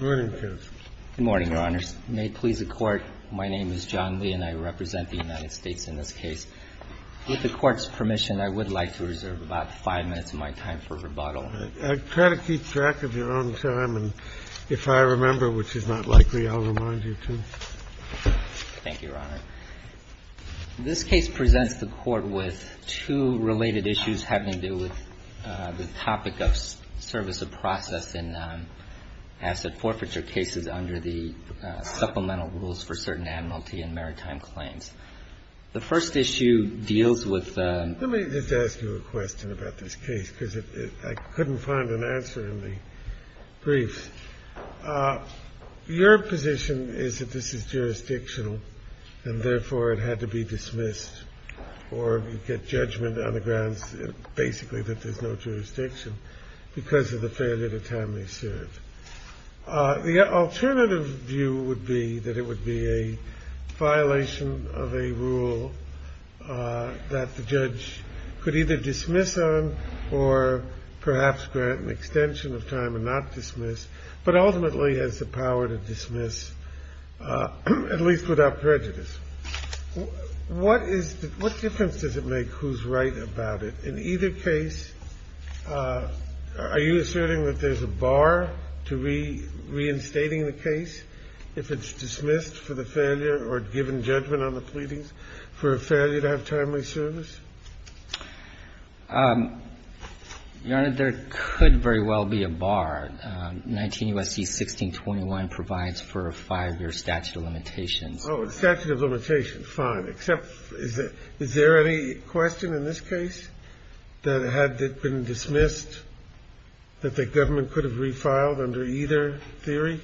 Good morning, Your Honors. May it please the Court, my name is John Lee and I represent the United States in this case. With the Court's permission, I would like to reserve about 5 minutes of my time for rebuttal. I try to keep track of your own time, and if I remember which is not likely, I'll remind you to. Thank you, Your Honor. This case presents the Court with two related issues having to do with the topic of service of process in asset forfeiture cases under the supplemental rules for certain admiralty and maritime The first issue deals with Let me just ask you a question about this case because I couldn't find an answer in the brief. Your position is that this is jurisdictional and therefore it had to be dismissed or you get judgment on the grounds basically that there's no jurisdiction because of the failure to timely serve. The alternative view would be that it would be a violation of a rule that the judge could either dismiss on or perhaps grant an extension of time and not dismiss, but ultimately has the power to dismiss at least without prejudice. What difference does it make who's right about it? In either case, are you asserting that there's a bar to reinstating the case if it's dismissed for the failure or given judgment on the pleadings for a failure to have timely service? Your Honor, there could very well be a bar. 19 U.S.C. 1621 provides for a 5-year statute of limitations. Oh, a statute of limitations, fine, except is there any question in this case? That had it been dismissed, that the government could have refiled under either theory?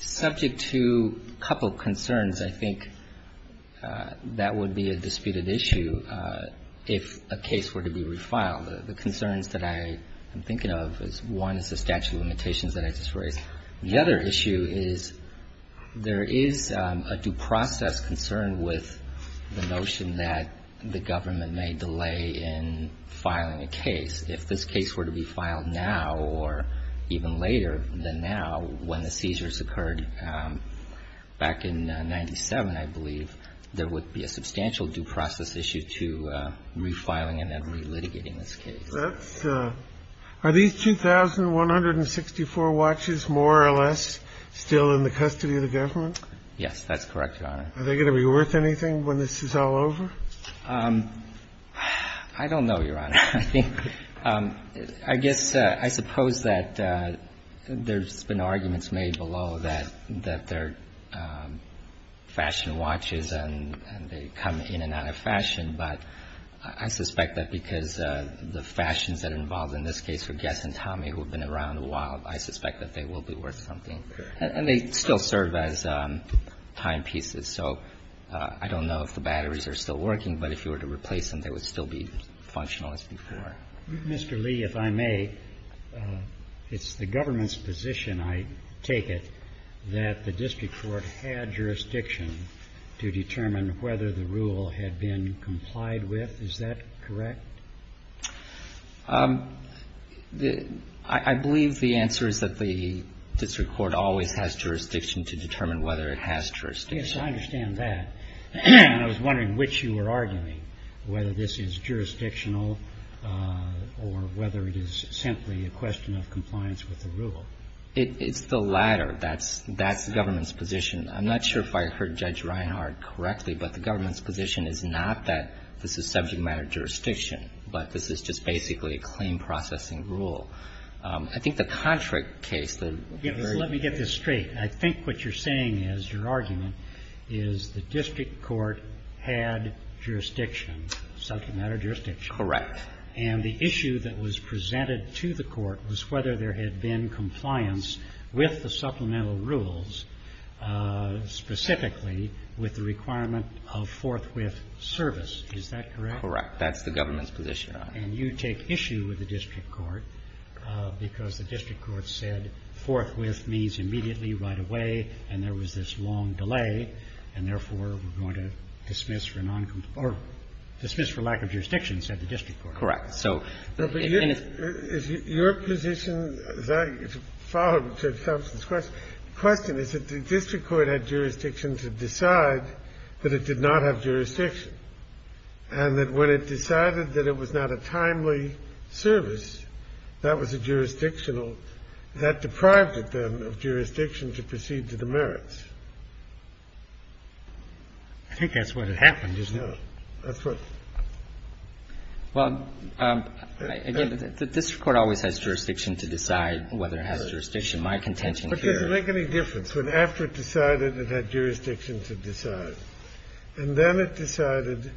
Subject to a couple of concerns, I think that would be a disputed issue if a case were to be refiled. The concerns that I'm thinking of is one is the statute of limitations that I just mentioned, and the other is the process concerned with the notion that the government may delay in filing a case. If this case were to be filed now or even later than now, when the seizures occurred back in 1997, I believe, there would be a substantial due process issue to refiling and then relitigating this case. Are these 2,164 watches more or less still in the custody of the government? Yes, that's correct, Your Honor. Are they going to be worth anything when this is all over? I don't know, Your Honor. I think – I guess I suppose that there's been arguments made below that they're fashion watches and they come in and out of fashion, but I suspect that because the fashions that are involved in this case for Guess and Tommy, who have been around a while, I suspect that they will be worth something. And they still serve as timepieces. So I don't know if the batteries are still working, but if you were to replace them, they would still be functional as before. Mr. Lee, if I may, it's the government's position, I take it, that the district court had jurisdiction to determine whether the rule had been complied with. Is that correct? I believe the answer is that the district court always has jurisdiction to determine whether it has jurisdiction. Yes, I understand that. I was wondering which you were arguing, whether this is jurisdictional or whether it is simply a question of compliance with the rule. It's the latter. That's the government's position. I'm not sure if I heard Judge Reinhardt correctly, but the government's position is not that this is subject matter jurisdiction. But this is just basically a claim processing rule. I think the contract case, the very ---- Let me get this straight. I think what you're saying is, your argument is the district court had jurisdiction, subject matter jurisdiction. Correct. And the issue that was presented to the court was whether there had been compliance with the supplemental rules, specifically with the requirement of forthwith service. Is that correct? Correct. That's the government's position. And you take issue with the district court because the district court said forthwith means immediately, right away, and there was this long delay, and therefore we're going to dismiss for noncompliance or dismiss for lack of jurisdiction, said the district court. Correct. Your position, as I followed Judge Thompson's question, the question is that the district court had jurisdiction to decide that it did not have jurisdiction, and that when it decided that it was not a timely service, that was a jurisdictional ---- That deprived it, then, of jurisdiction to proceed to the merits. I think that's what had happened, isn't it? No. That's what ---- Well, again, the district court always has jurisdiction to decide whether it has jurisdiction. My contention here ---- But it doesn't make any difference. But after it decided it had jurisdiction to decide, and then it decided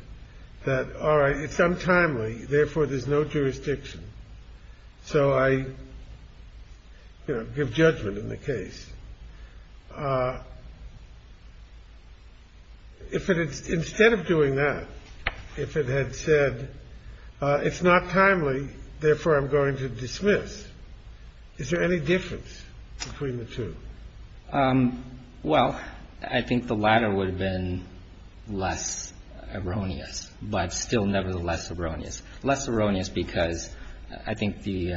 that, all right, it's untimely, therefore there's no jurisdiction, so I, you know, give judgment in the case. If it had ---- instead of doing that, if it had said, it's not timely, therefore I'm going to dismiss, is there any difference between the two? Well, I think the latter would have been less erroneous, but still nevertheless erroneous. Less erroneous because I think the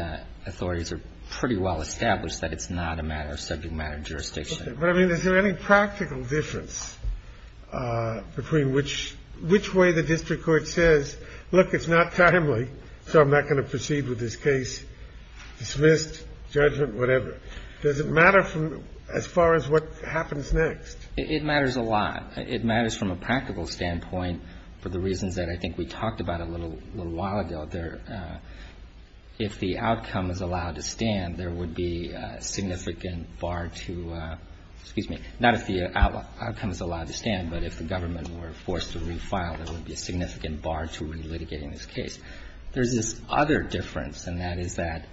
authorities are pretty well established that it's not a matter of subject matter jurisdiction. But, I mean, is there any practical difference between which ---- which way the district court says, look, it's not timely, so I'm not going to proceed with this case, dismissed, judgment, whatever. Does it matter from as far as what happens next? It matters a lot. It matters from a practical standpoint for the reasons that I think we talked about a little while ago. There ---- if the outcome is allowed to stand, there would be a significant bar to ---- excuse me, not if the outcome is allowed to stand, but if the government were forced to refile, there would be a significant bar to relitigating this case. There's this other difference, and that is that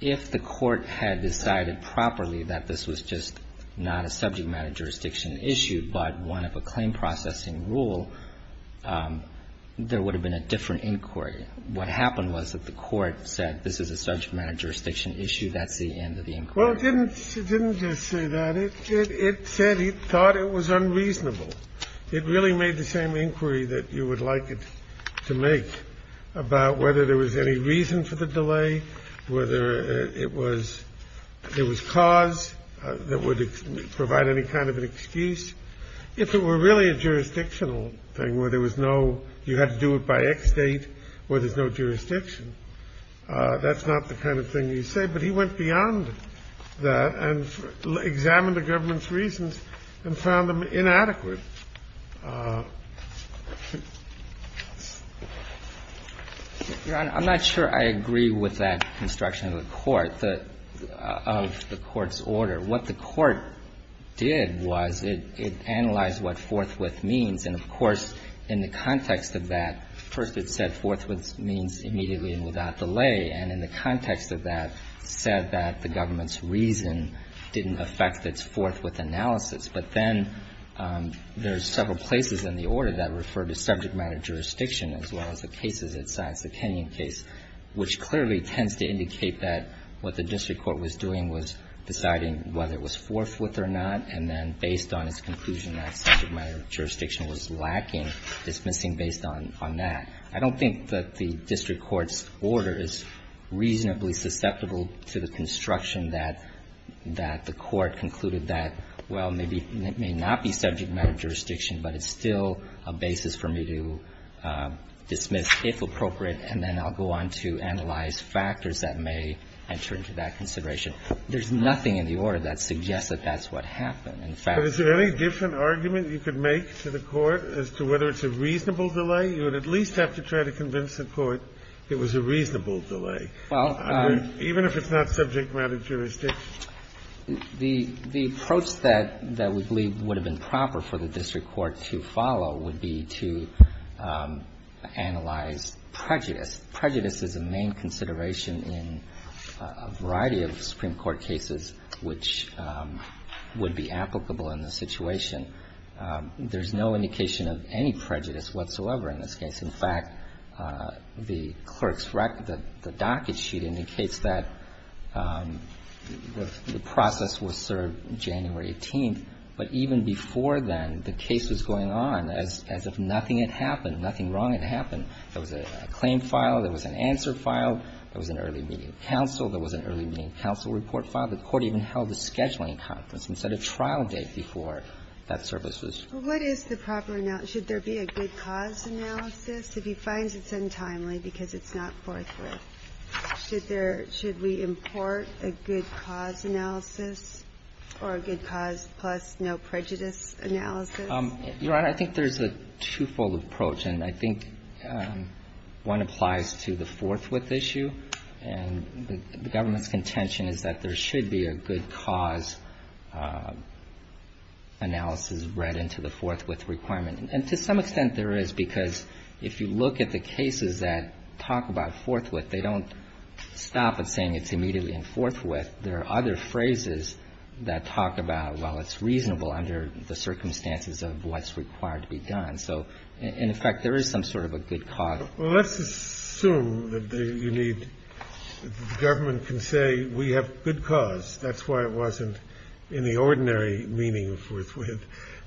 if the court had decided properly that this was just not a subject matter jurisdiction issue, but one of a claim-processing rule, there would have been a different inquiry. What happened was that the court said this is a subject matter jurisdiction issue, that's the end of the inquiry. Well, it didn't just say that. It said it thought it was unreasonable. It really made the same inquiry that you would like it to make. About whether there was any reason for the delay, whether it was cause that would provide any kind of an excuse. If it were really a jurisdictional thing where there was no, you had to do it by X date, where there's no jurisdiction, that's not the kind of thing he said. But he went beyond that and examined the government's reasons and found them reasonable. I'm not sure I agree with that construction of the court, of the court's order. What the court did was it analyzed what forthwith means, and, of course, in the context of that, first it said forthwith means immediately and without delay, and in the context of that, said that the government's reason didn't affect its forthwith analysis. But then there's several places in the order that refer to subject matter jurisdiction as well as the cases it cites, the Kenyon case, which clearly tends to indicate that what the district court was doing was deciding whether it was forthwith or not, and then based on its conclusion that subject matter jurisdiction was lacking, dismissing based on that. I don't think that the district court's order is reasonably susceptible to the construction that the court concluded that, well, maybe it may not be subject matter jurisdiction, but it's still a basis for me to dismiss, if appropriate, and then I'll go on to analyze factors that may enter into that consideration. There's nothing in the order that suggests that that's what happened. In fact, I don't think it's reasonable. Kennedy. But is there any different argument you could make to the court as to whether it's a reasonable delay? You would at least have to try to convince the court it was a reasonable delay. Well, I mean, even if it's not subject matter jurisdiction. The approach that we believe would have been proper for the district court to follow would be to analyze prejudice. Prejudice is a main consideration in a variety of Supreme Court cases which would be applicable in this situation. There's no indication of any prejudice whatsoever in this case. In fact, the clerk's record, the docket sheet indicates that the process was served January 18th, but even before then, the case was going on as if nothing had happened, nothing wrong had happened. There was a claim file, there was an answer file, there was an early meeting counsel, there was an early meeting counsel report file. The court even held a scheduling conference and set a trial date before that service was used. What is the proper analysis? Should there be a good cause analysis? If he finds it's untimely because it's not forthwith, should we import a good cause analysis or a good cause plus no prejudice analysis? Your Honor, I think there's a twofold approach, and I think one applies to the forthwith issue. And the government's contention is that there should be a good cause analysis read into the forthwith requirement. And to some extent there is, because if you look at the cases that talk about forthwith, they don't stop at saying it's immediately in forthwith. There are other phrases that talk about, well, it's reasonable under the circumstances of what's required to be done. So in effect, there is some sort of a good cause. Well, let's assume that you need the government can say we have good cause. That's why it wasn't in the ordinary meaning of forthwith.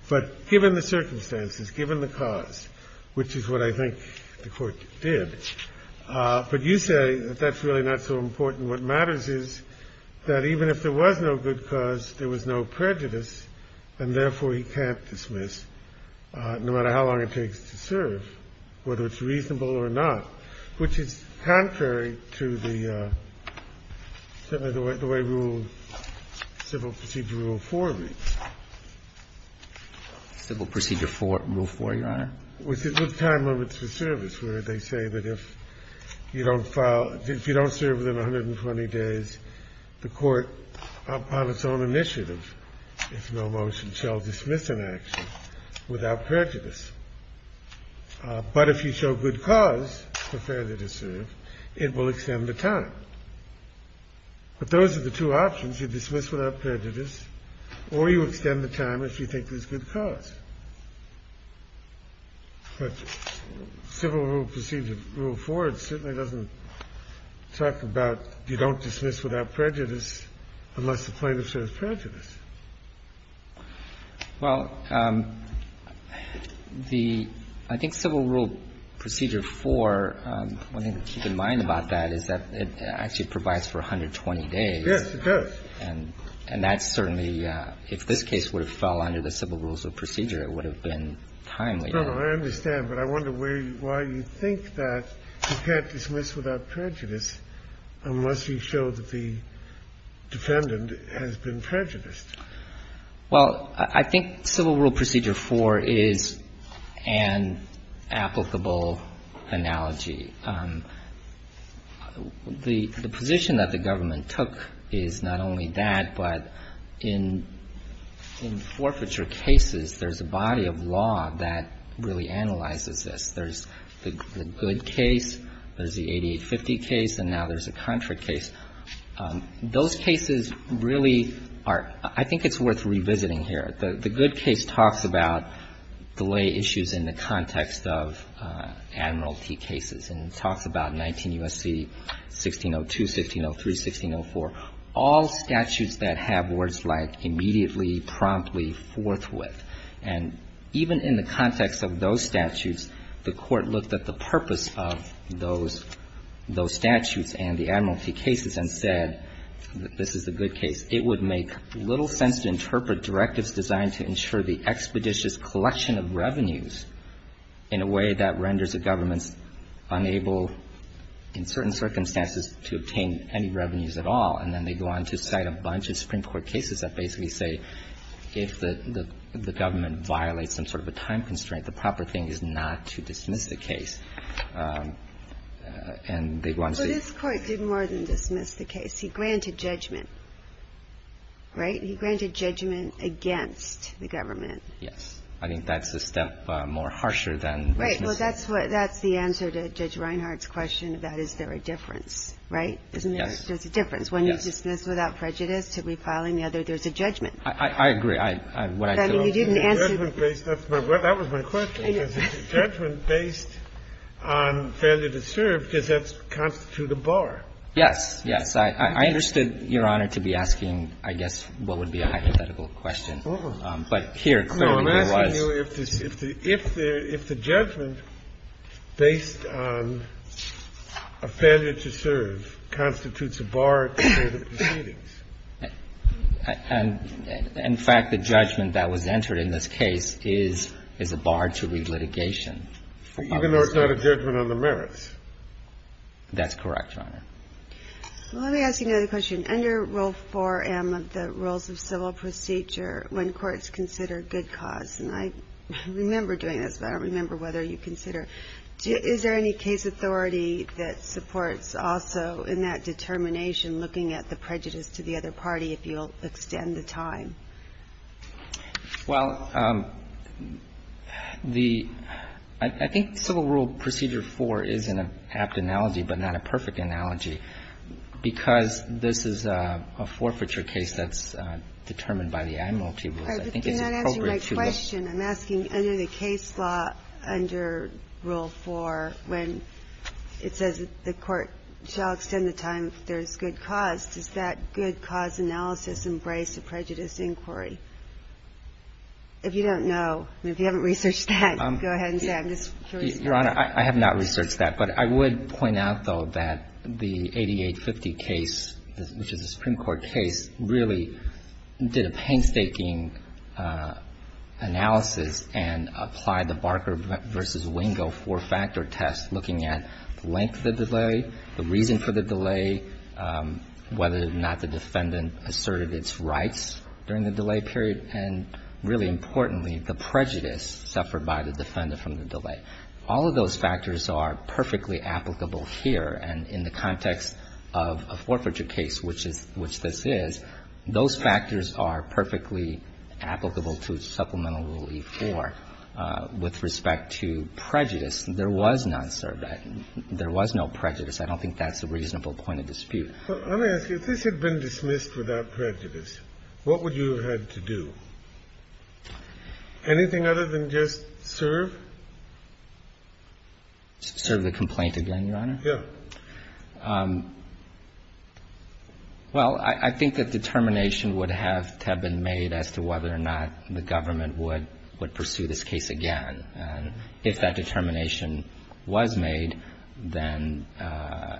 But given the circumstances, given the cause, which is what I think the court did. But you say that that's really not so important. What matters is that even if there was no good cause, there was no prejudice. And therefore, he can't dismiss, no matter how long it takes to serve, whether it's reasonable or not. Which is contrary to the way Civil Procedure Rule 4 reads. Civil Procedure 4, Rule 4, Your Honor. With time limits for service, where they say that if you don't file – if you don't serve within 120 days, the court, upon its own initiative, if no motion, shall dismiss an action without prejudice. But if you show good cause for further to serve, it will extend the time. But those are the two options. You have to dismiss without prejudice, or you extend the time if you think there's good cause. But Civil Rule Procedure Rule 4 certainly doesn't talk about you don't dismiss without prejudice unless the plaintiff serves prejudice. Well, the – I think Civil Rule Procedure 4, one thing to keep in mind about that is that it actually provides for 120 days. Yes, it does. And that's certainly – if this case would have fell under the Civil Rules of Procedure, it would have been timely. No, no. I understand. But I wonder where – why you think that you can't dismiss without prejudice unless you show that the defendant has been prejudiced. Well, I think Civil Rule Procedure 4 is an applicable analogy. The position that the government took is not only that, but in forfeiture cases, there's a body of law that really analyzes this. There's the good case, there's the 8850 case, and now there's a contra case. Those cases really are – I think it's worth revisiting here. The good case talks about delay issues in the context of admiralty cases. And it talks about 19 U.S.C. 1602, 1603, 1604, all statutes that have words like immediately, promptly, forthwith. And even in the context of those statutes, the Court looked at the purpose of those statutes and the admiralty cases and said that this is the good case. It would make little sense to interpret directives designed to ensure the expeditious collection of revenues in a way that renders the governments unable in certain circumstances to obtain any revenues at all. And then they go on to cite a bunch of Supreme Court cases that basically say if the government violates some sort of a time constraint, the proper thing is not to dismiss the case. And they go on to say – But this Court did more than dismiss the case. He granted judgment, right? He granted judgment against the government. Yes. I think that's a step more harsher than dismissing. Right. Well, that's what – that's the answer to Judge Reinhart's question about is there a difference, right? Yes. There's a difference. One is dismissed without prejudice. To be filed in the other, there's a judgment. I agree. I mean, you didn't answer the question. That was my question. Is it a judgment based on failure to serve? Does that constitute a bar? Yes. Yes. I understood, Your Honor, to be asking, I guess, what would be a hypothetical question. But here, clearly, there was – No, I'm asking you if the – if the judgment based on a failure to serve constitutes a bar to the proceedings. In fact, the judgment that was entered in this case is a bar to relitigation. Even though it's not a judgment on the merits. That's correct, Your Honor. Let me ask you another question. Under Rule 4M of the Rules of Civil Procedure, when courts consider good cause, and I remember doing this, but I don't remember whether you consider, is there any case authority that supports also in that determination looking at the prejudice to the other party if you'll extend the time? Well, the – I think Civil Rule Procedure 4 is an apt analogy, but not a perfect analogy, because this is a forfeiture case that's determined by the admiralty rules. I think it's appropriate to the – All right. But you're not answering my question. I'm asking under the case law under Rule 4, when it says the court shall extend the time if there's good cause, does that good cause analysis embrace a prejudice inquiry? If you don't know, if you haven't researched that, go ahead and say it. I'm just curious. Your Honor, I have not researched that, but I would point out, though, that the 8850 case, which is a Supreme Court case, really did a painstaking analysis and applied the Barker v. Wingo four-factor test, looking at length of the delay, the reason for the delay, whether or not the defendant asserted its rights during the delay period, and really importantly, the prejudice suffered by the defendant from the delay. All of those factors are perfectly applicable here. And in the context of a forfeiture case, which is – which this is, those factors are perfectly applicable to Supplemental Rule E-4. With respect to prejudice, there was non-served. There was no prejudice. I don't think that's a reasonable point of dispute. So let me ask you, if this had been dismissed without prejudice, what would you have had to do? Anything other than just serve? Serve the complaint again, Your Honor? Yeah. Well, I think that determination would have to have been made as to whether or not the government would pursue this case again. And if that determination was made, then a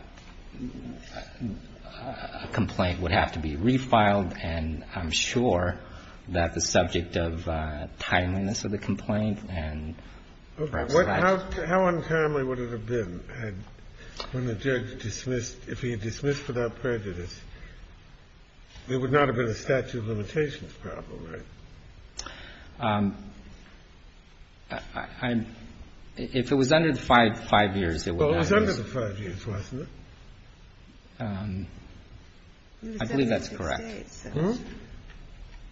complaint would have to be refiled. And I'm sure that the subject of timeliness of the complaint and perhaps that's How untimely would it have been had – when the judge dismissed – if he had dismissed without prejudice, there would not have been a statute of limitations problem, right? I'm – if it was under the five years, it would not have been. Well, it was under the five years, wasn't it? I believe that's correct.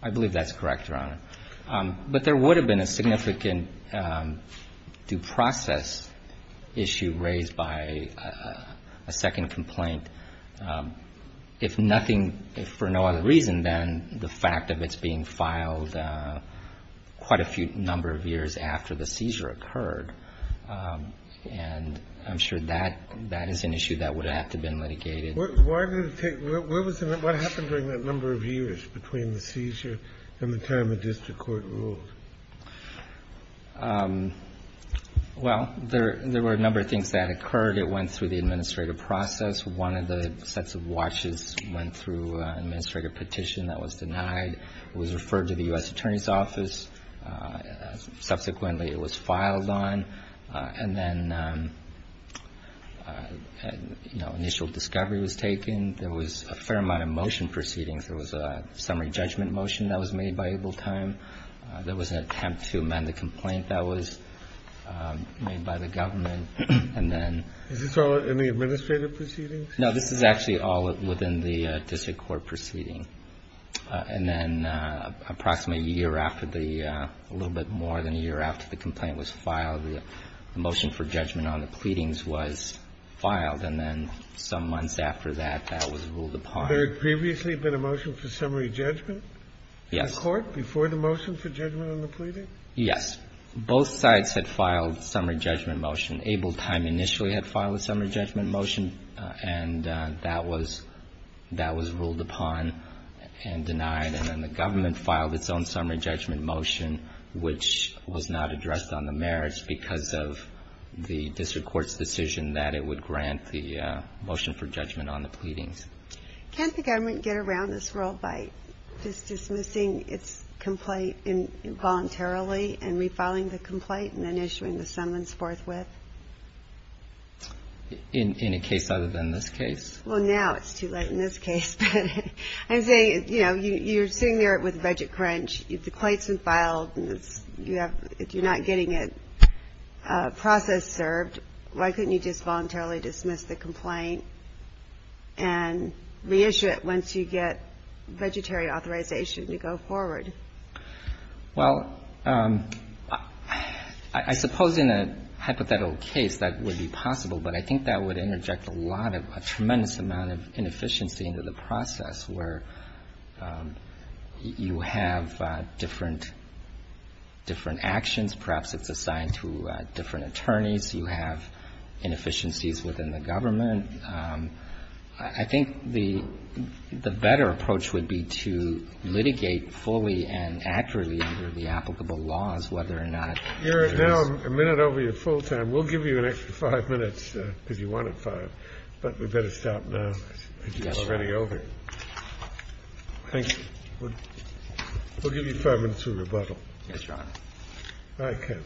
I believe that's correct, Your Honor. But there would have been a significant due process issue raised by a second complaint if nothing – if for no other reason than the fact that it's being filed quite a few number of years after the seizure occurred. And I'm sure that is an issue that would have to have been litigated. Why did it take – where was the – what happened during that number of years between the seizure and the time the district court ruled? Well, there were a number of things that occurred. It went through the administrative process. One of the sets of watches went through an administrative petition that was denied. It was referred to the U.S. Attorney's Office. Subsequently, it was filed on. And then, you know, initial discovery was taken. There was a fair amount of motion proceedings. There was a summary judgment motion that was made by Able Time. There was an attempt to amend the complaint that was made by the government. And then – Is this all in the administrative proceedings? No, this is actually all within the district court proceeding. And then approximately a year after the – a little bit more than a year after the complaint was filed, the motion for judgment on the pleadings was filed. And then some months after that, that was ruled upon. Had there previously been a motion for summary judgment? Yes. In court before the motion for judgment on the pleading? Yes. Both sides had filed summary judgment motion. Able Time initially had filed a summary judgment motion, and that was ruled upon and denied. And then the government filed its own summary judgment motion, which was not addressed on the merits because of the district court's decision that it would grant the motion for judgment on the pleadings. Can't the government get around this rule by just dismissing its complaint involuntarily and refiling the complaint and then issuing the summons forthwith? In a case other than this case? Well, now it's too late in this case. But I'm saying, you know, you're sitting there with a budget crunch. If the claim's been filed and you're not getting a process served, why couldn't you just voluntarily dismiss the complaint and reissue it once you get budgetary authorization to go forward? Well, I suppose in a hypothetical case, that would be possible. But I think that would interject a lot of a tremendous amount of inefficiency into the process, where you have different actions. Perhaps it's assigned to different attorneys. You have inefficiencies within the government. I think the better approach would be to litigate fully and accurately under the applicable laws, whether or not there is not a full time. We'll give you an extra five minutes, if you want it five, but we'd better stop now. It's already over. Thank you. We'll give you five minutes to rebuttal. Yes, Your Honor. All right, Ken.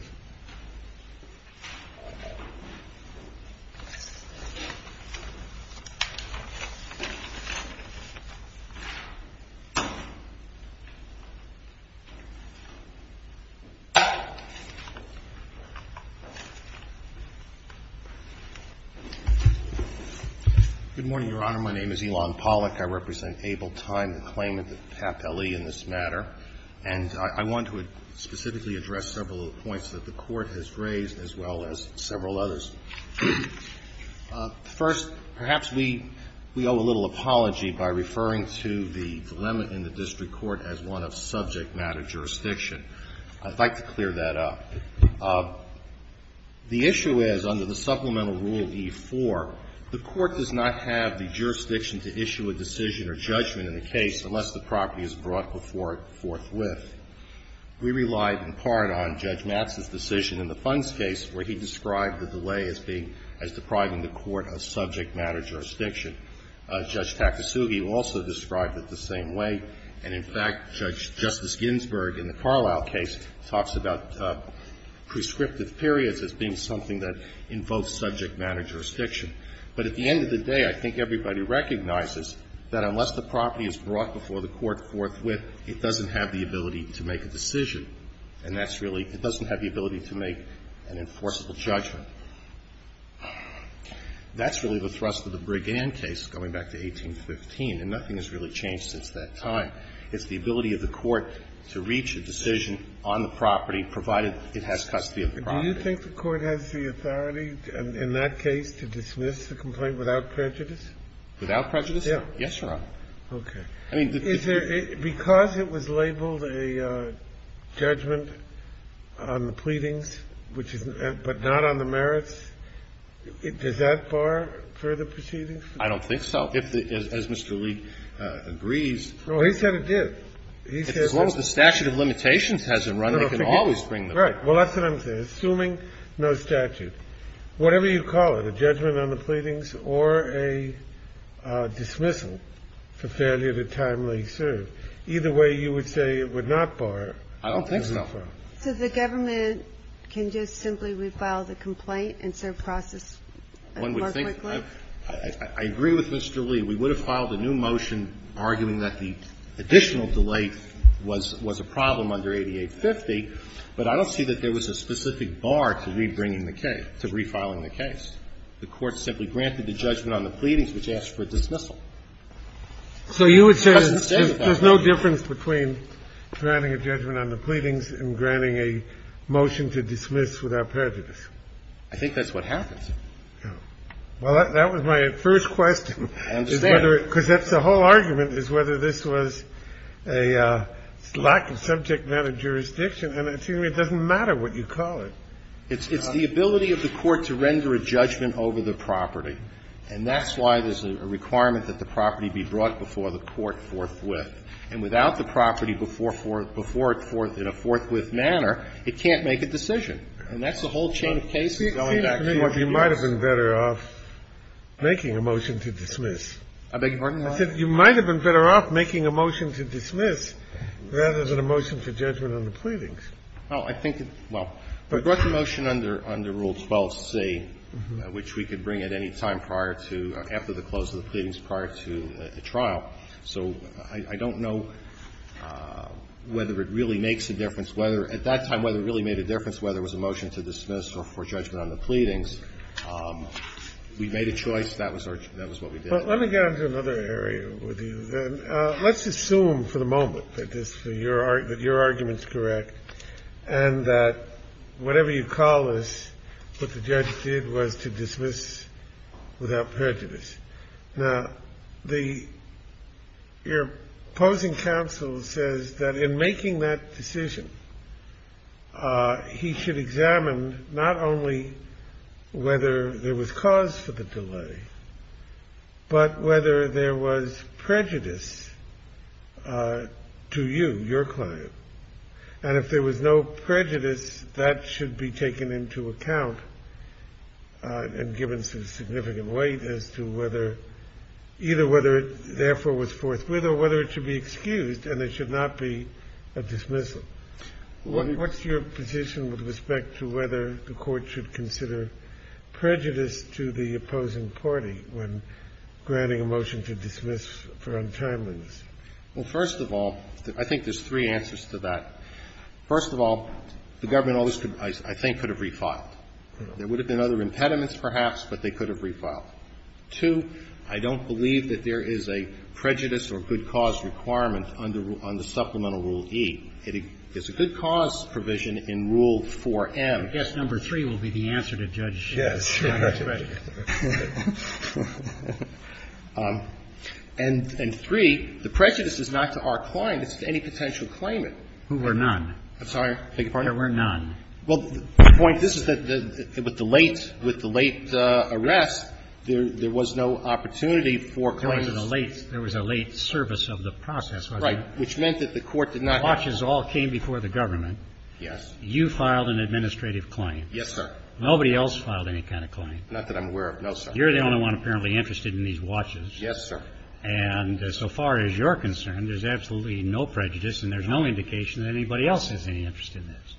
Good morning, Your Honor. My name is Elon Pollack. I represent Able Time, the claimant of PAP-LE in this matter. And I want to specifically address several points that the Court has raised, as well as several others. First, perhaps we owe a little apology by referring to the dilemma in the district court as one of subject matter jurisdiction. I'd like to clear that up. The issue is, under the supplemental rule E-4, the Court does not have the jurisdiction to issue a decision or judgment in a case unless the property is brought forthwith. We relied in part on Judge Matz's decision in the funds case, where he described the delay as being as depriving the Court of subject matter jurisdiction. Judge Takasugi also described it the same way. And, in fact, Judge Justice Ginsberg, in the Carlisle case, talks about prescriptive periods as being something that invokes subject matter jurisdiction. But at the end of the day, I think everybody recognizes that unless the property is brought before the Court forthwith, it doesn't have the ability to make a decision. And that's really — it doesn't have the ability to make an enforceable judgment. That's really the thrust of the Brigand case, going back to 1815. And nothing has really changed since that time. It's the ability of the Court to reach a decision on the property, provided it has custody of the property. Do you think the Court has the authority in that case to dismiss the complaint without prejudice? Without prejudice? Yes, Your Honor. Okay. I mean, the — Is there — because it was labeled a judgment on the pleadings, which is — but not on the merits, does that bar further proceedings? I don't think so. If the — as Mr. Leek agrees — No, he said it did. He said — As long as the statute of limitations hasn't run, they can always bring the — Right. Well, that's what I'm saying. Assuming no statute, whatever you call it, a judgment on the pleadings or a dismissal for failure to timely serve, either way, you would say it would not bar — I don't think so. So the government can just simply refile the complaint and serve process more quickly? One would think — I agree with Mr. Leek. We would have filed a new motion arguing that the additional delay was a problem under 8850, but I don't see that there was a specific bar to rebringing the case, to refiling the case. The Court simply granted the judgment on the pleadings, which asked for a dismissal. So you would say there's no difference between granting a judgment on the pleadings and granting a motion to dismiss without prejudice? I think that's what happens. Well, that was my first question. I understand. Because that's the whole argument, is whether this was a lack of subject matter jurisdiction, and it doesn't matter what you call it. It's the ability of the Court to render a judgment over the property, and that's why there's a requirement that the property be brought before the Court forthwith. And without the property before it forthwith in a forthwith manner, it can't make And that's the whole chain of cases going back to your — I mean, you might have been better off making a motion to dismiss. I beg your pardon? I said you might have been better off making a motion to dismiss rather than a motion to judgment on the pleadings. Well, I think it — well, we brought the motion under Rule 12c, which we could bring at any time prior to — after the close of the pleadings, prior to the trial. So I don't know whether it really makes a difference, whether — at that time, whether it really made a difference, whether it was a motion to dismiss or for judgment on the pleadings, we made a choice. That was our — that was what we did. Well, let me get on to another area with you, then. Let's assume for the moment that this — that your argument's correct, and that whatever you call this, what the judge did was to dismiss without prejudice. Now, the — your opposing counsel says that in making that decision, he should examine not only whether there was cause for the delay, but whether there was prejudice to you, your client. And if there was no prejudice, that should be taken into account and given some significant weight as to whether — either whether it therefore was forthwith or whether it should be excused, and there should not be a dismissal. What's your position with respect to whether the Court should consider prejudice to the opposing party when granting a motion to dismiss for untimeliness? Well, first of all, I think there's three answers to that. First of all, the government always could — I think could have refiled. There would have been other impediments, perhaps, but they could have refiled. Two, I don't believe that there is a prejudice or good cause requirement under Supplemental Rule E. It's a good cause provision in Rule 4M. I guess number three will be the answer to Judge Schiff. Yes. And three, the prejudice is not to our client. It's to any potential claimant. Who were none. I'm sorry? I beg your pardon? There were none. Well, the point — this is the — with the late — with the late arrest, there was no opportunity for claims. There was a late — there was a late service of the process, wasn't there? Right. Which meant that the court did not have — Watches all came before the government. Yes. You filed an administrative claim. Yes, sir. Nobody else filed any kind of claim. Not that I'm aware of, no, sir. You're the only one apparently interested in these watches. Yes, sir. And so far as you're concerned, there's absolutely no prejudice, and there's no indication that anybody else has any interest in this.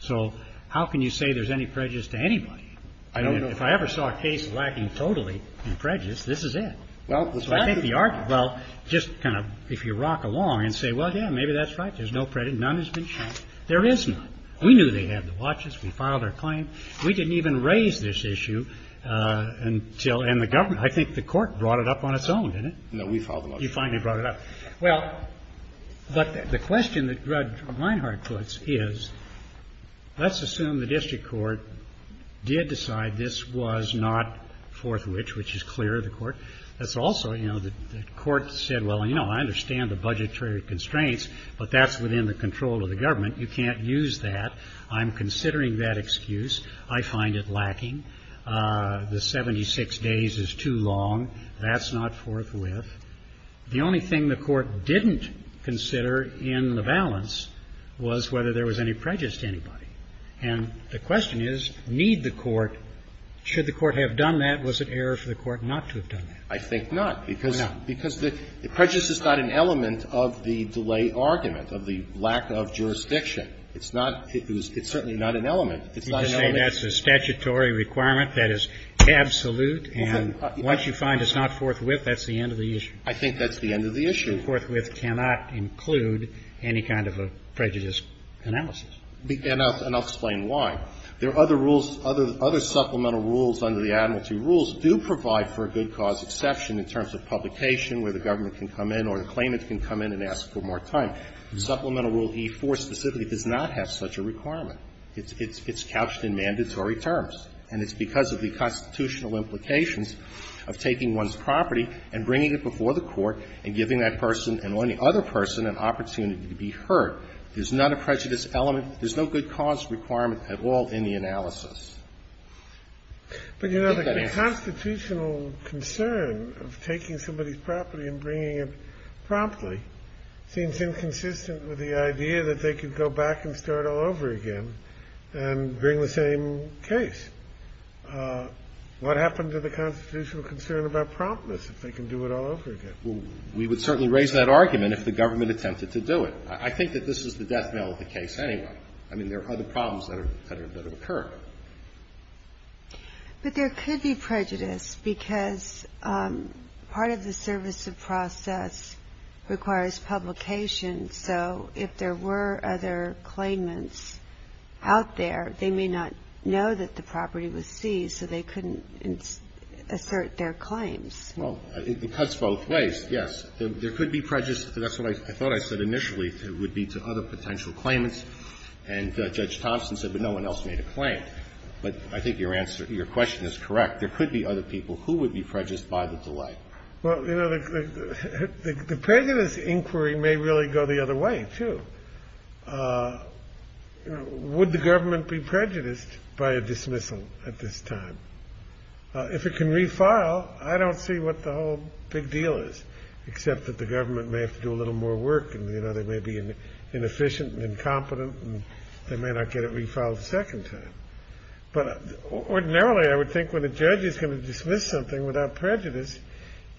So how can you say there's any prejudice to anybody? I don't know. If I ever saw a case lacking totally in prejudice, this is it. Well, the fact that — Well, just kind of — if you rock along and say, well, yeah, maybe that's right. There's no prejudice. None has been shown. There is none. We knew they had the watches. We filed our claim. We didn't even raise this issue until — and the government — I think the court brought it up on its own, didn't it? No, we filed the watch. You finally brought it up. Well, but the question that Rudd-Reinhart puts is, let's assume the district court did decide this was not forthwith, which is clear to the court. That's also — you know, the court said, well, you know, I understand the budgetary constraints, but that's within the control of the government. You can't use that. I'm considering that excuse. I find it lacking. The 76 days is too long. That's not forthwith. The only thing the court didn't consider in the balance was whether there was any prejudice to anybody. And the question is, need the court — should the court have done that? Was it error for the court not to have done that? I think not, because the prejudice is not an element of the delay argument, of the lack of jurisdiction. It's not — it's certainly not an element. It's not an element of the delay argument. You can say that's a statutory requirement that is absolute, and once you find it's not forthwith, that's the end of the issue. I think that's the end of the issue. And forthwith cannot include any kind of a prejudice analysis. And I'll explain why. There are other rules, other supplemental rules under the Admiralty Rules do provide for a good cause exception in terms of publication, where the government can come in or the claimant can come in and ask for more time. Supplemental Rule E-4 specifically does not have such a requirement. It's couched in mandatory terms, and it's because of the constitutional implications of taking one's property and bringing it before the court and giving that person and any other person an opportunity to be heard. There's not a prejudice element. There's no good cause requirement at all in the analysis. But you know, the constitutional concern of taking somebody's property and bringing it promptly seems inconsistent with the idea that they could go back and start all over again and bring the same case. What happened to the constitutional concern about promptness, if they can do it all over again? Well, we would certainly raise that argument if the government attempted to do it. I think that this is the death knell of the case anyway. I mean, there are other problems that have occurred. But there could be prejudice, because part of the service of process requires publication, so if there were other claimants out there, they may not know that the property was seized, so they couldn't assert their claims. Well, it cuts both ways, yes. There could be prejudice. That's what I thought I said initially, would be to other potential claimants. And Judge Thompson said, but no one else made a claim. But I think your answer, your question is correct. There could be other people who would be prejudiced by the delay. Well, you know, the prejudice inquiry may really go the other way, too. Would the government be prejudiced by a dismissal at this time? If it can refile, I don't see what the whole big deal is, except that the government may have to do a little more work. And, you know, they may be inefficient and incompetent, and they may not get it refiled a second time. But ordinarily, I would think when a judge is going to dismiss something without prejudice,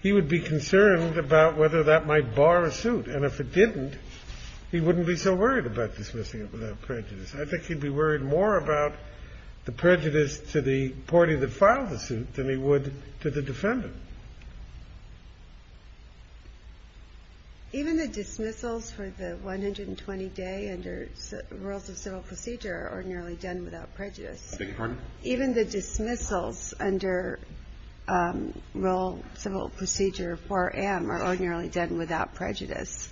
he would be concerned about whether that might bar a suit. And if it didn't, he wouldn't be so worried about dismissing it without prejudice. I think he'd be worried more about the prejudice to the party that filed the suit than he would to the defendant. Even the dismissals for the 120-day under rules of civil procedure are ordinarily done without prejudice. Even the dismissals under Rule Civil Procedure 4M are ordinarily done without prejudice.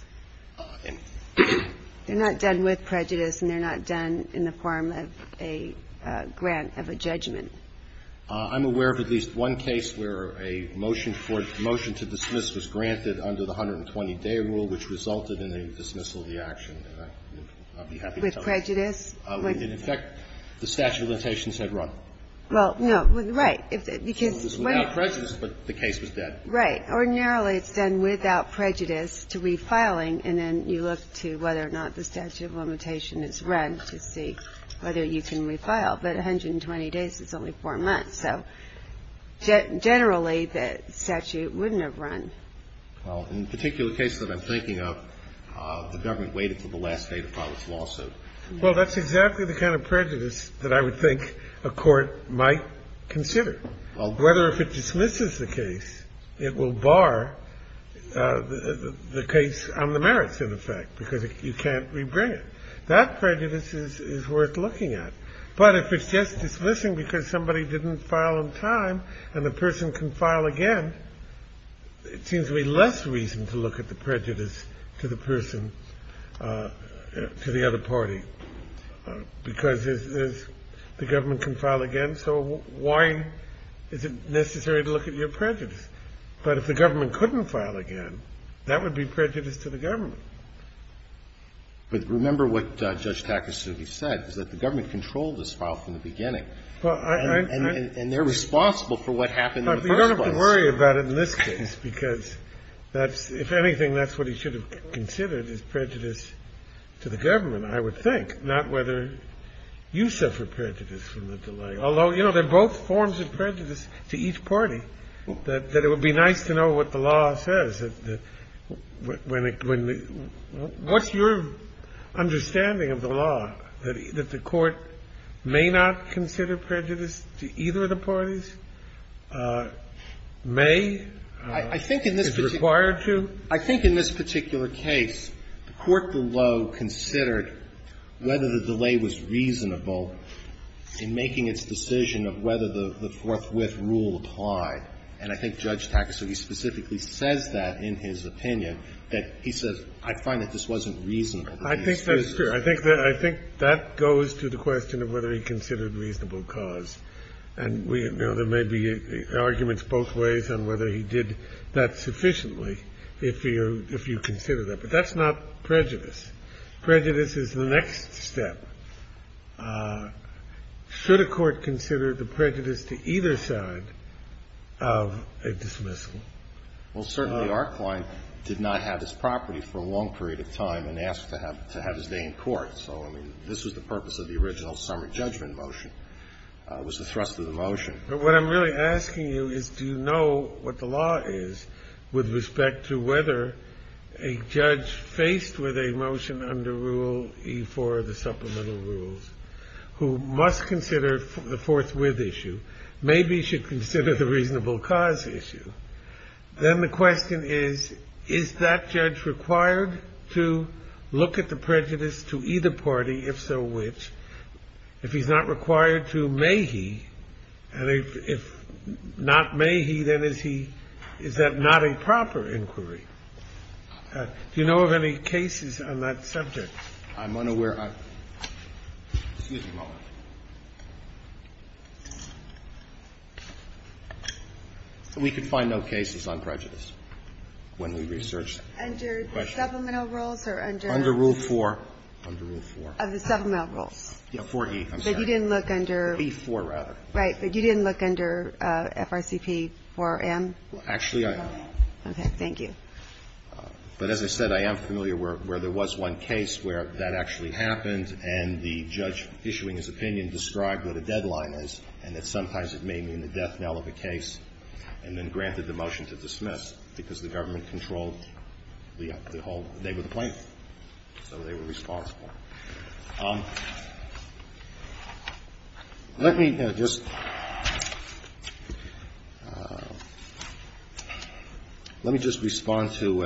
They're not done with prejudice, and they're not done in the form of a grant of a judgment. I'm aware of at least one case where a motion for the motion to dismiss was granted under the 120-day rule, which resulted in a dismissal of the action. And I'll be happy to tell you. With prejudice? In effect, the statute of limitations had run. Well, no. Right. Because when it was without prejudice, but the case was dead. Right. Ordinarily, it's done without prejudice to refiling, and then you look to whether or not the statute of limitation is run to see whether you can refile. But 120 days is only four months, so generally, the statute wouldn't have run. Well, in the particular case that I'm thinking of, the government waited until the last day to file its lawsuit. Well, that's exactly the kind of prejudice that I would think a court might consider. Well, whether if it dismisses the case, it will bar the case on the merits, in effect, because you can't rebrand. That prejudice is worth looking at. But if it's just dismissing because somebody didn't file in time and the person can file again, it seems to be less reason to look at the prejudice to the person, to the other party. Because the government can file again, so why is it necessary to look at your prejudice? But if the government couldn't file again, that would be prejudice to the government. But remember what Judge Takasuji said, is that the government controlled this file from the beginning. And they're responsible for what happened in the first place. You don't have to worry about it in this case, because that's – if anything, that's what he should have considered is prejudice to the government, I would think, not whether you suffer prejudice from the delay. Although, you know, they're both forms of prejudice to each party, that it would be nice to know what the law says. What's your understanding of the law, that the court may not consider prejudice to either of the parties, may, is required to? I think in this particular case, the court below considered whether the delay was reasonable in making its decision of whether the forthwith rule applied. And I think Judge Takasuji specifically says that in his opinion, that he says, I find that this wasn't reasonable. I think that's true. I think that goes to the question of whether he considered reasonable cause. And we – you know, there may be arguments both ways on whether he did that sufficiently if you consider that. But that's not prejudice. Prejudice is the next step. Should a court consider the prejudice to either side of a dismissal? Well, certainly, our client did not have his property for a long period of time and asked to have his day in court. So, I mean, this was the purpose of the original summary judgment motion, was the thrust of the motion. But what I'm really asking you is, do you know what the law is with respect to whether a judge faced with a motion under Rule E-4, the supplemental rules, who must consider the forthwith issue, maybe should consider the reasonable cause issue, then the question is, is that judge required to look at the prejudice to either party, if so which? If he's not required to, may he? And if not may he, then is he – is that not a proper inquiry? Do you know of any cases on that subject? I'm unaware of – excuse me a moment. We can find no cases on prejudice when we research the question. Under the supplemental rules or under – Under Rule 4. Under Rule 4. Of the supplemental rules. Yeah, 4E, I'm sorry. But you didn't look under – E-4, rather. Right. But you didn't look under FRCP 4M? Actually, I did. Okay. Thank you. But as I said, I am familiar where there was one case where that actually happened and the judge issuing his opinion described what a deadline is and that sometimes it may mean the death knell of a case and then granted the motion to dismiss because the government controlled the whole – they were the plaintiff, so they were responsible. Let me just – let me just respond to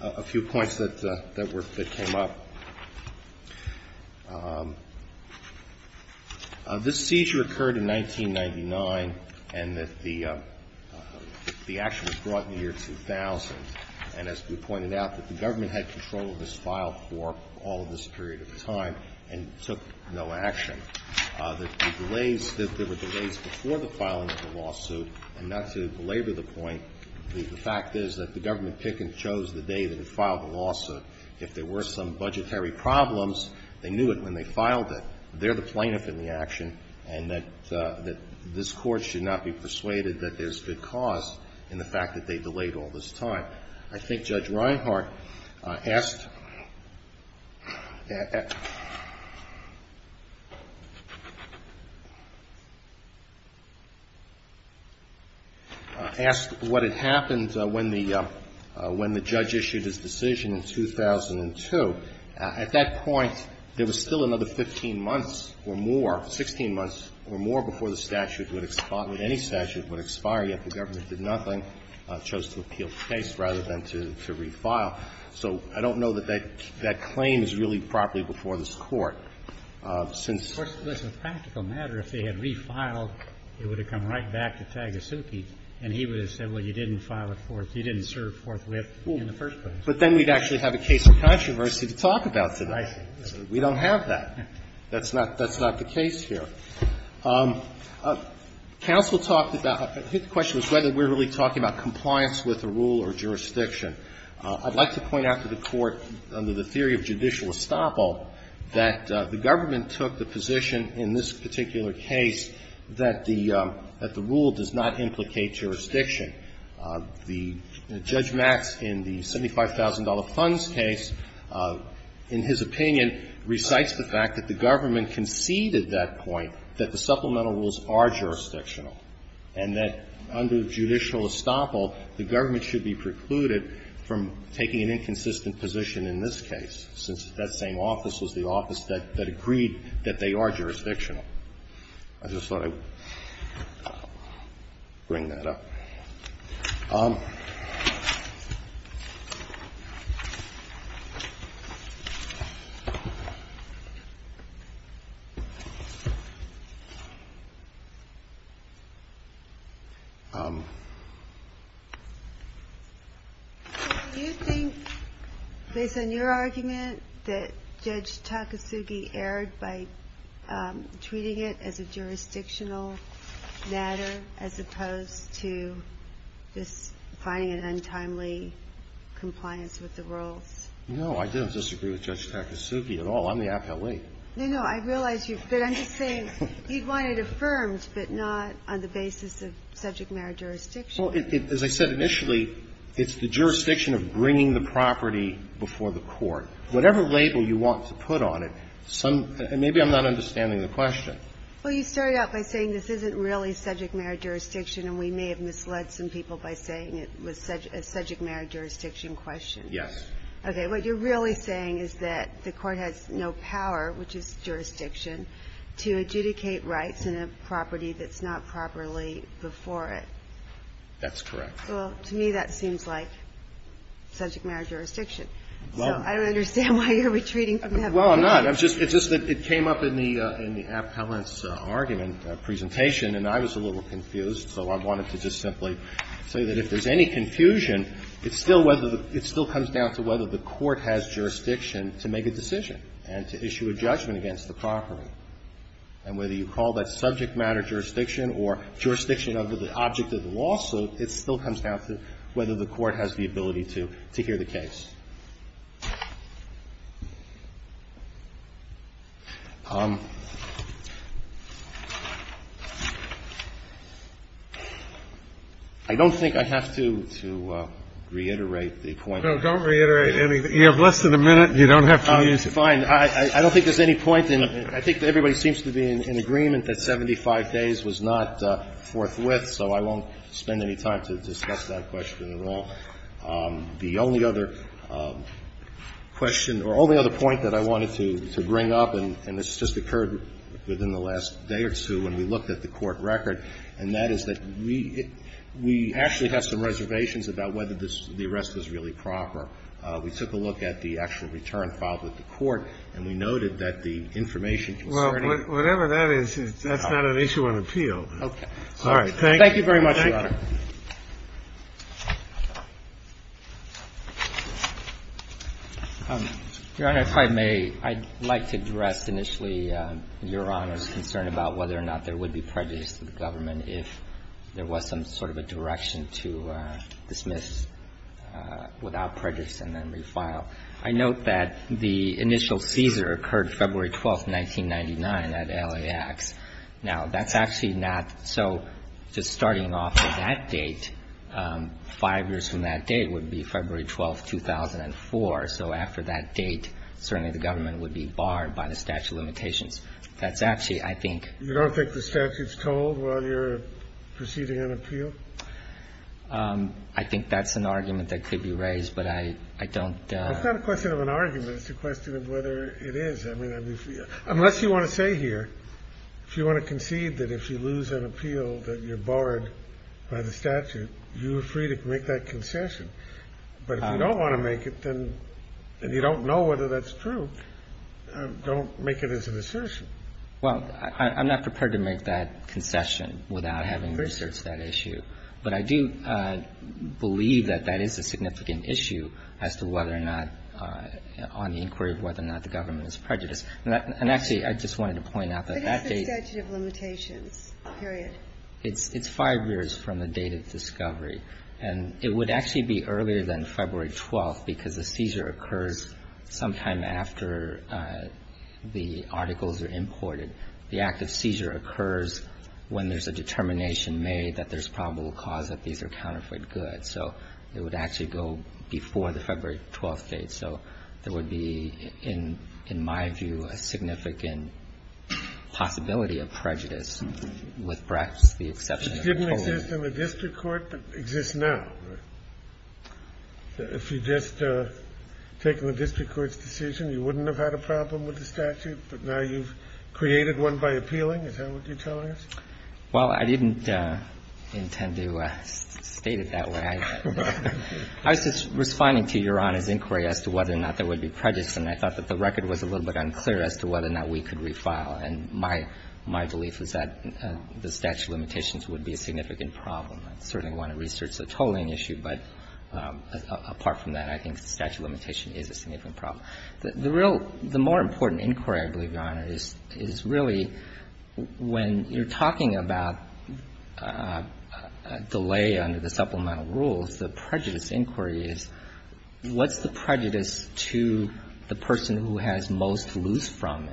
a few points that were – that came up. This seizure occurred in 1999 and that the action was brought in the year 2000 and as we pointed out, that the government had control of this file for all of this period of time and took no action. That the delays – that there were delays before the filing of the lawsuit and not to belabor the point, the fact is that the government pick and chose the day that it filed the lawsuit. If there were some budgetary problems, they knew it when they filed it. They're the plaintiff in the action and that this Court should not be persuaded that there's good cause in the fact that they delayed all this time. I think Judge Reinhart asked – asked what had happened when the – when the judge issued his decision in 2002. At that point, there was still another 15 months or more, 16 months or more before the statute would – any statute would expire, yet the government did nothing, chose to appeal the case rather than to – to refile. So I don't know that that claim is really properly before this Court. Since – Roberts, it's a practical matter. If they had refiled, it would have come right back to Tagasuke and he would have said, well, you didn't file it forth – you didn't serve forthwith in the first place. But then we'd actually have a case of controversy to talk about today. I see. We don't have that. That's not – that's not the case here. Counsel talked about – I think the question was whether we're really talking about compliance with a rule or jurisdiction. I'd like to point out to the Court, under the theory of judicial estoppel, that the government took the position in this particular case that the – that the rule does not implicate jurisdiction. The – Judge Max, in the $75,000 funds case, in his opinion, recites the fact that the government conceded that point, that the supplemental rules are jurisdictional, and that under judicial estoppel, the government should be precluded from taking an inconsistent position in this case, since that same office was the office that agreed that they are jurisdictional. I just thought I'd bring that up. Do you think, based on your argument, that Judge Takasugi erred by treating it as a jurisdictional matter as opposed to just finding an untimely compliance with the rules? No, I didn't disagree with Judge Takasugi at all. I'm the appellee. No, no. I realize you. But I'm just saying he'd want it affirmed, but not on the basis of subject matter jurisdiction. Well, it – as I said initially, it's the jurisdiction of bringing the property before the Court. Whatever label you want to put on it, some – and maybe I'm not understanding the question. Well, you started out by saying this isn't really subject matter jurisdiction, and we may have misled some people by saying it was a subject matter jurisdiction question. Yes. Okay. What you're really saying is that the Court has no power, which is jurisdiction, to adjudicate rights in a property that's not properly before it. That's correct. Well, to me, that seems like subject matter jurisdiction. Well – So I don't understand why you're retreating from that point. Well, I'm not. It's just that it came up in the appellant's argument presentation, and I was a little confused, so I wanted to just simply say that if there's any confusion, it's still whether the – it still comes down to whether the Court has jurisdiction to make a decision and to issue a judgment against the property. And whether you call that subject matter jurisdiction or jurisdiction under the object of the lawsuit, it still comes down to whether the Court has the ability to hear the case. I don't think I have to reiterate the point. No, don't reiterate anything. You have less than a minute. You don't have to use it. Fine. I don't think there's any point in – I think everybody seems to be in agreement that 75 days was not forthwith, so I won't spend any time to discuss that question at all. The only other question or only other point that I wanted to bring up, and this just occurred within the last day or two when we looked at the Court record, and that is that we actually have some reservations about whether this – the arrest was really proper. We took a look at the actual return filed with the Court, and we noted that the information concerning the – Well, whatever that is, that's not an issue on appeal. All right. Thank you. Thank you very much, Your Honor. Your Honor, if I may, I'd like to address initially Your Honor's concern about whether or not there would be prejudice to the government if there was some sort of a direction to dismiss without prejudice and then refile. I note that the initial seizure occurred February 12th, 1999, at LAX. Now, that's actually not – so just starting off at that date, 5 years from that date would be February 12th, 2004. So after that date, certainly the government would be barred by the statute of limitations. That's actually, I think – You don't think the statute's told while you're proceeding on appeal? I think that's an argument that could be raised, but I don't – It's not a question of an argument. It's a question of whether it is. I mean, unless you want to say here, if you want to concede that if you lose an appeal that you're barred by the statute, you are free to make that concession. But if you don't want to make it, then – and you don't know whether that's true, don't make it as an assertion. Well, I'm not prepared to make that concession without having researched that issue. But I do believe that that is a significant issue as to whether or not – on the inquiry of whether or not the government is prejudiced. And actually, I just wanted to point out that that date – But it's the statute of limitations, period. It's 5 years from the date of discovery. And it would actually be earlier than February 12th, because the seizure occurs sometime after the articles are imported. The act of seizure occurs when there's a determination made that there's probable cause that these are counterfeit goods. So it would actually go before the February 12th date. So there would be, in my view, a significant possibility of prejudice, with the exception of the total. It didn't exist in the district court, but exists now, right? If you'd just taken the district court's decision, you wouldn't have had a problem with the statute. But now you've created one by appealing. Is that what you're telling us? Well, I didn't intend to state it that way. I was just responding to Your Honor's inquiry as to whether or not there would be prejudice, and I thought that the record was a little bit unclear as to whether or not we could refile. And my belief is that the statute of limitations would be a significant problem. I certainly want to research the tolling issue, but apart from that, I think the statute of limitation is a significant problem. The real – the more important inquiry, I believe, Your Honor, is really when you're talking about delay under the supplemental rules, the prejudice inquiry is, what's the prejudice to the person who has most to lose from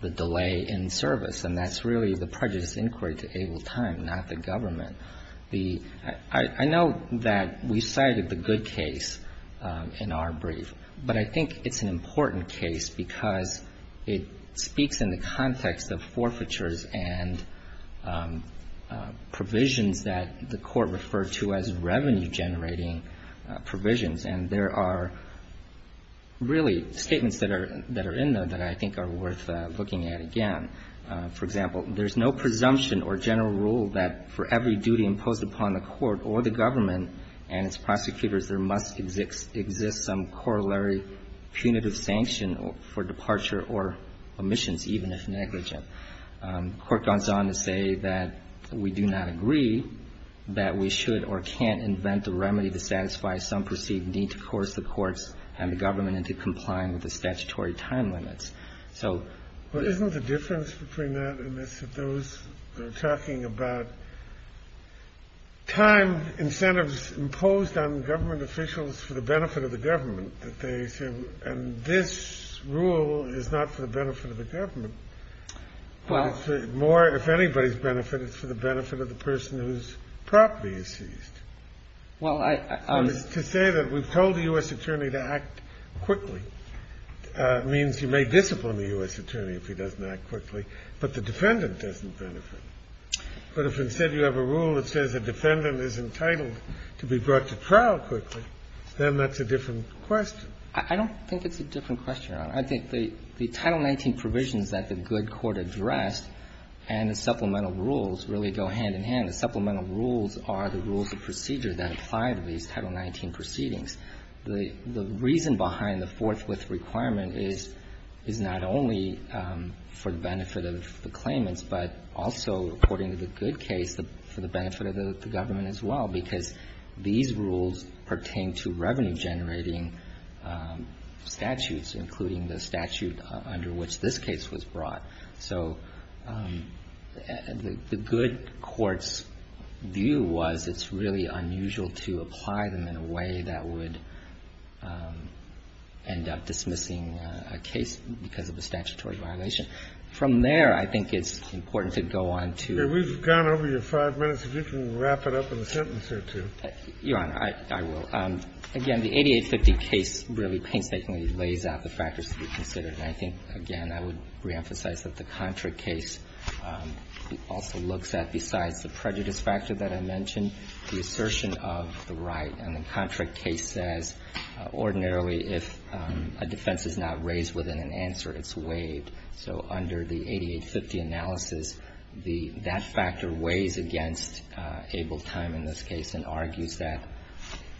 the delay in service? And that's really the prejudice inquiry to able time, not the government. The – I know that we cited the good case in our brief, but I think it's an important case because it speaks in the context of forfeitures and provisions that the court referred to as revenue-generating provisions. And there are really statements that are in there that I think are worth looking at again. For example, there's no presumption or general rule that for every duty imposed upon the court or the government and its prosecutors, there must exist some corollary punitive sanction for departure or omissions, even if negligent. The court goes on to say that we do not agree that we should or can't invent a remedy to satisfy some perceived need to force the courts and the government into complying with the statutory time limits. So the – Kennedy. Isn't the difference between that and this that those that are talking about time incentives imposed on government officials for the benefit of the government, that they say, and this rule is not for the benefit of the government, but it's more – if anybody's benefit, it's for the benefit of the person whose property is seized? Well, I – I mean, to say that we've told the U.S. attorney to act quickly means you may discipline the U.S. attorney if he doesn't act quickly, but the defendant doesn't benefit. But if instead you have a rule that says a defendant is entitled to be brought to trial quickly, then that's a different question. I don't think it's a different question, Your Honor. I think the Title 19 provisions that the good court addressed and the supplemental rules really go hand in hand. The supplemental rules are the rules of procedure that apply to these Title 19 proceedings. The reason behind the forthwith requirement is not only for the benefit of the claimants, but also, according to the good case, for the benefit of the government as well, because these rules pertain to revenue-generating statutes, including the statute under which this case was brought. So the good court's view was it's really unusual to apply them in a way that would end up dismissing a case because of a statutory violation. From there, I think it's important to go on to the next point. I'm not sure if you want to answer it, too. Your Honor, I will. Again, the 8850 case really painstakingly lays out the factors to be considered. And I think, again, I would reemphasize that the Contra case also looks at, besides the prejudice factor that I mentioned, the assertion of the right. And the Contra case says, ordinarily, if a defense is not raised within an answer, it's waived. So under the 8850 analysis, that factor weighs against able time in this case and argues that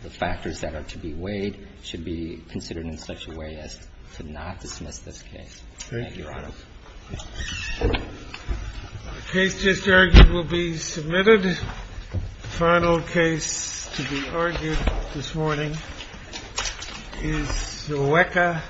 the factors that are to be weighed should be considered in such a way as to not dismiss this case. Thank you, Your Honor. The case just argued will be submitted. The final case to be argued this morning is Iweka v.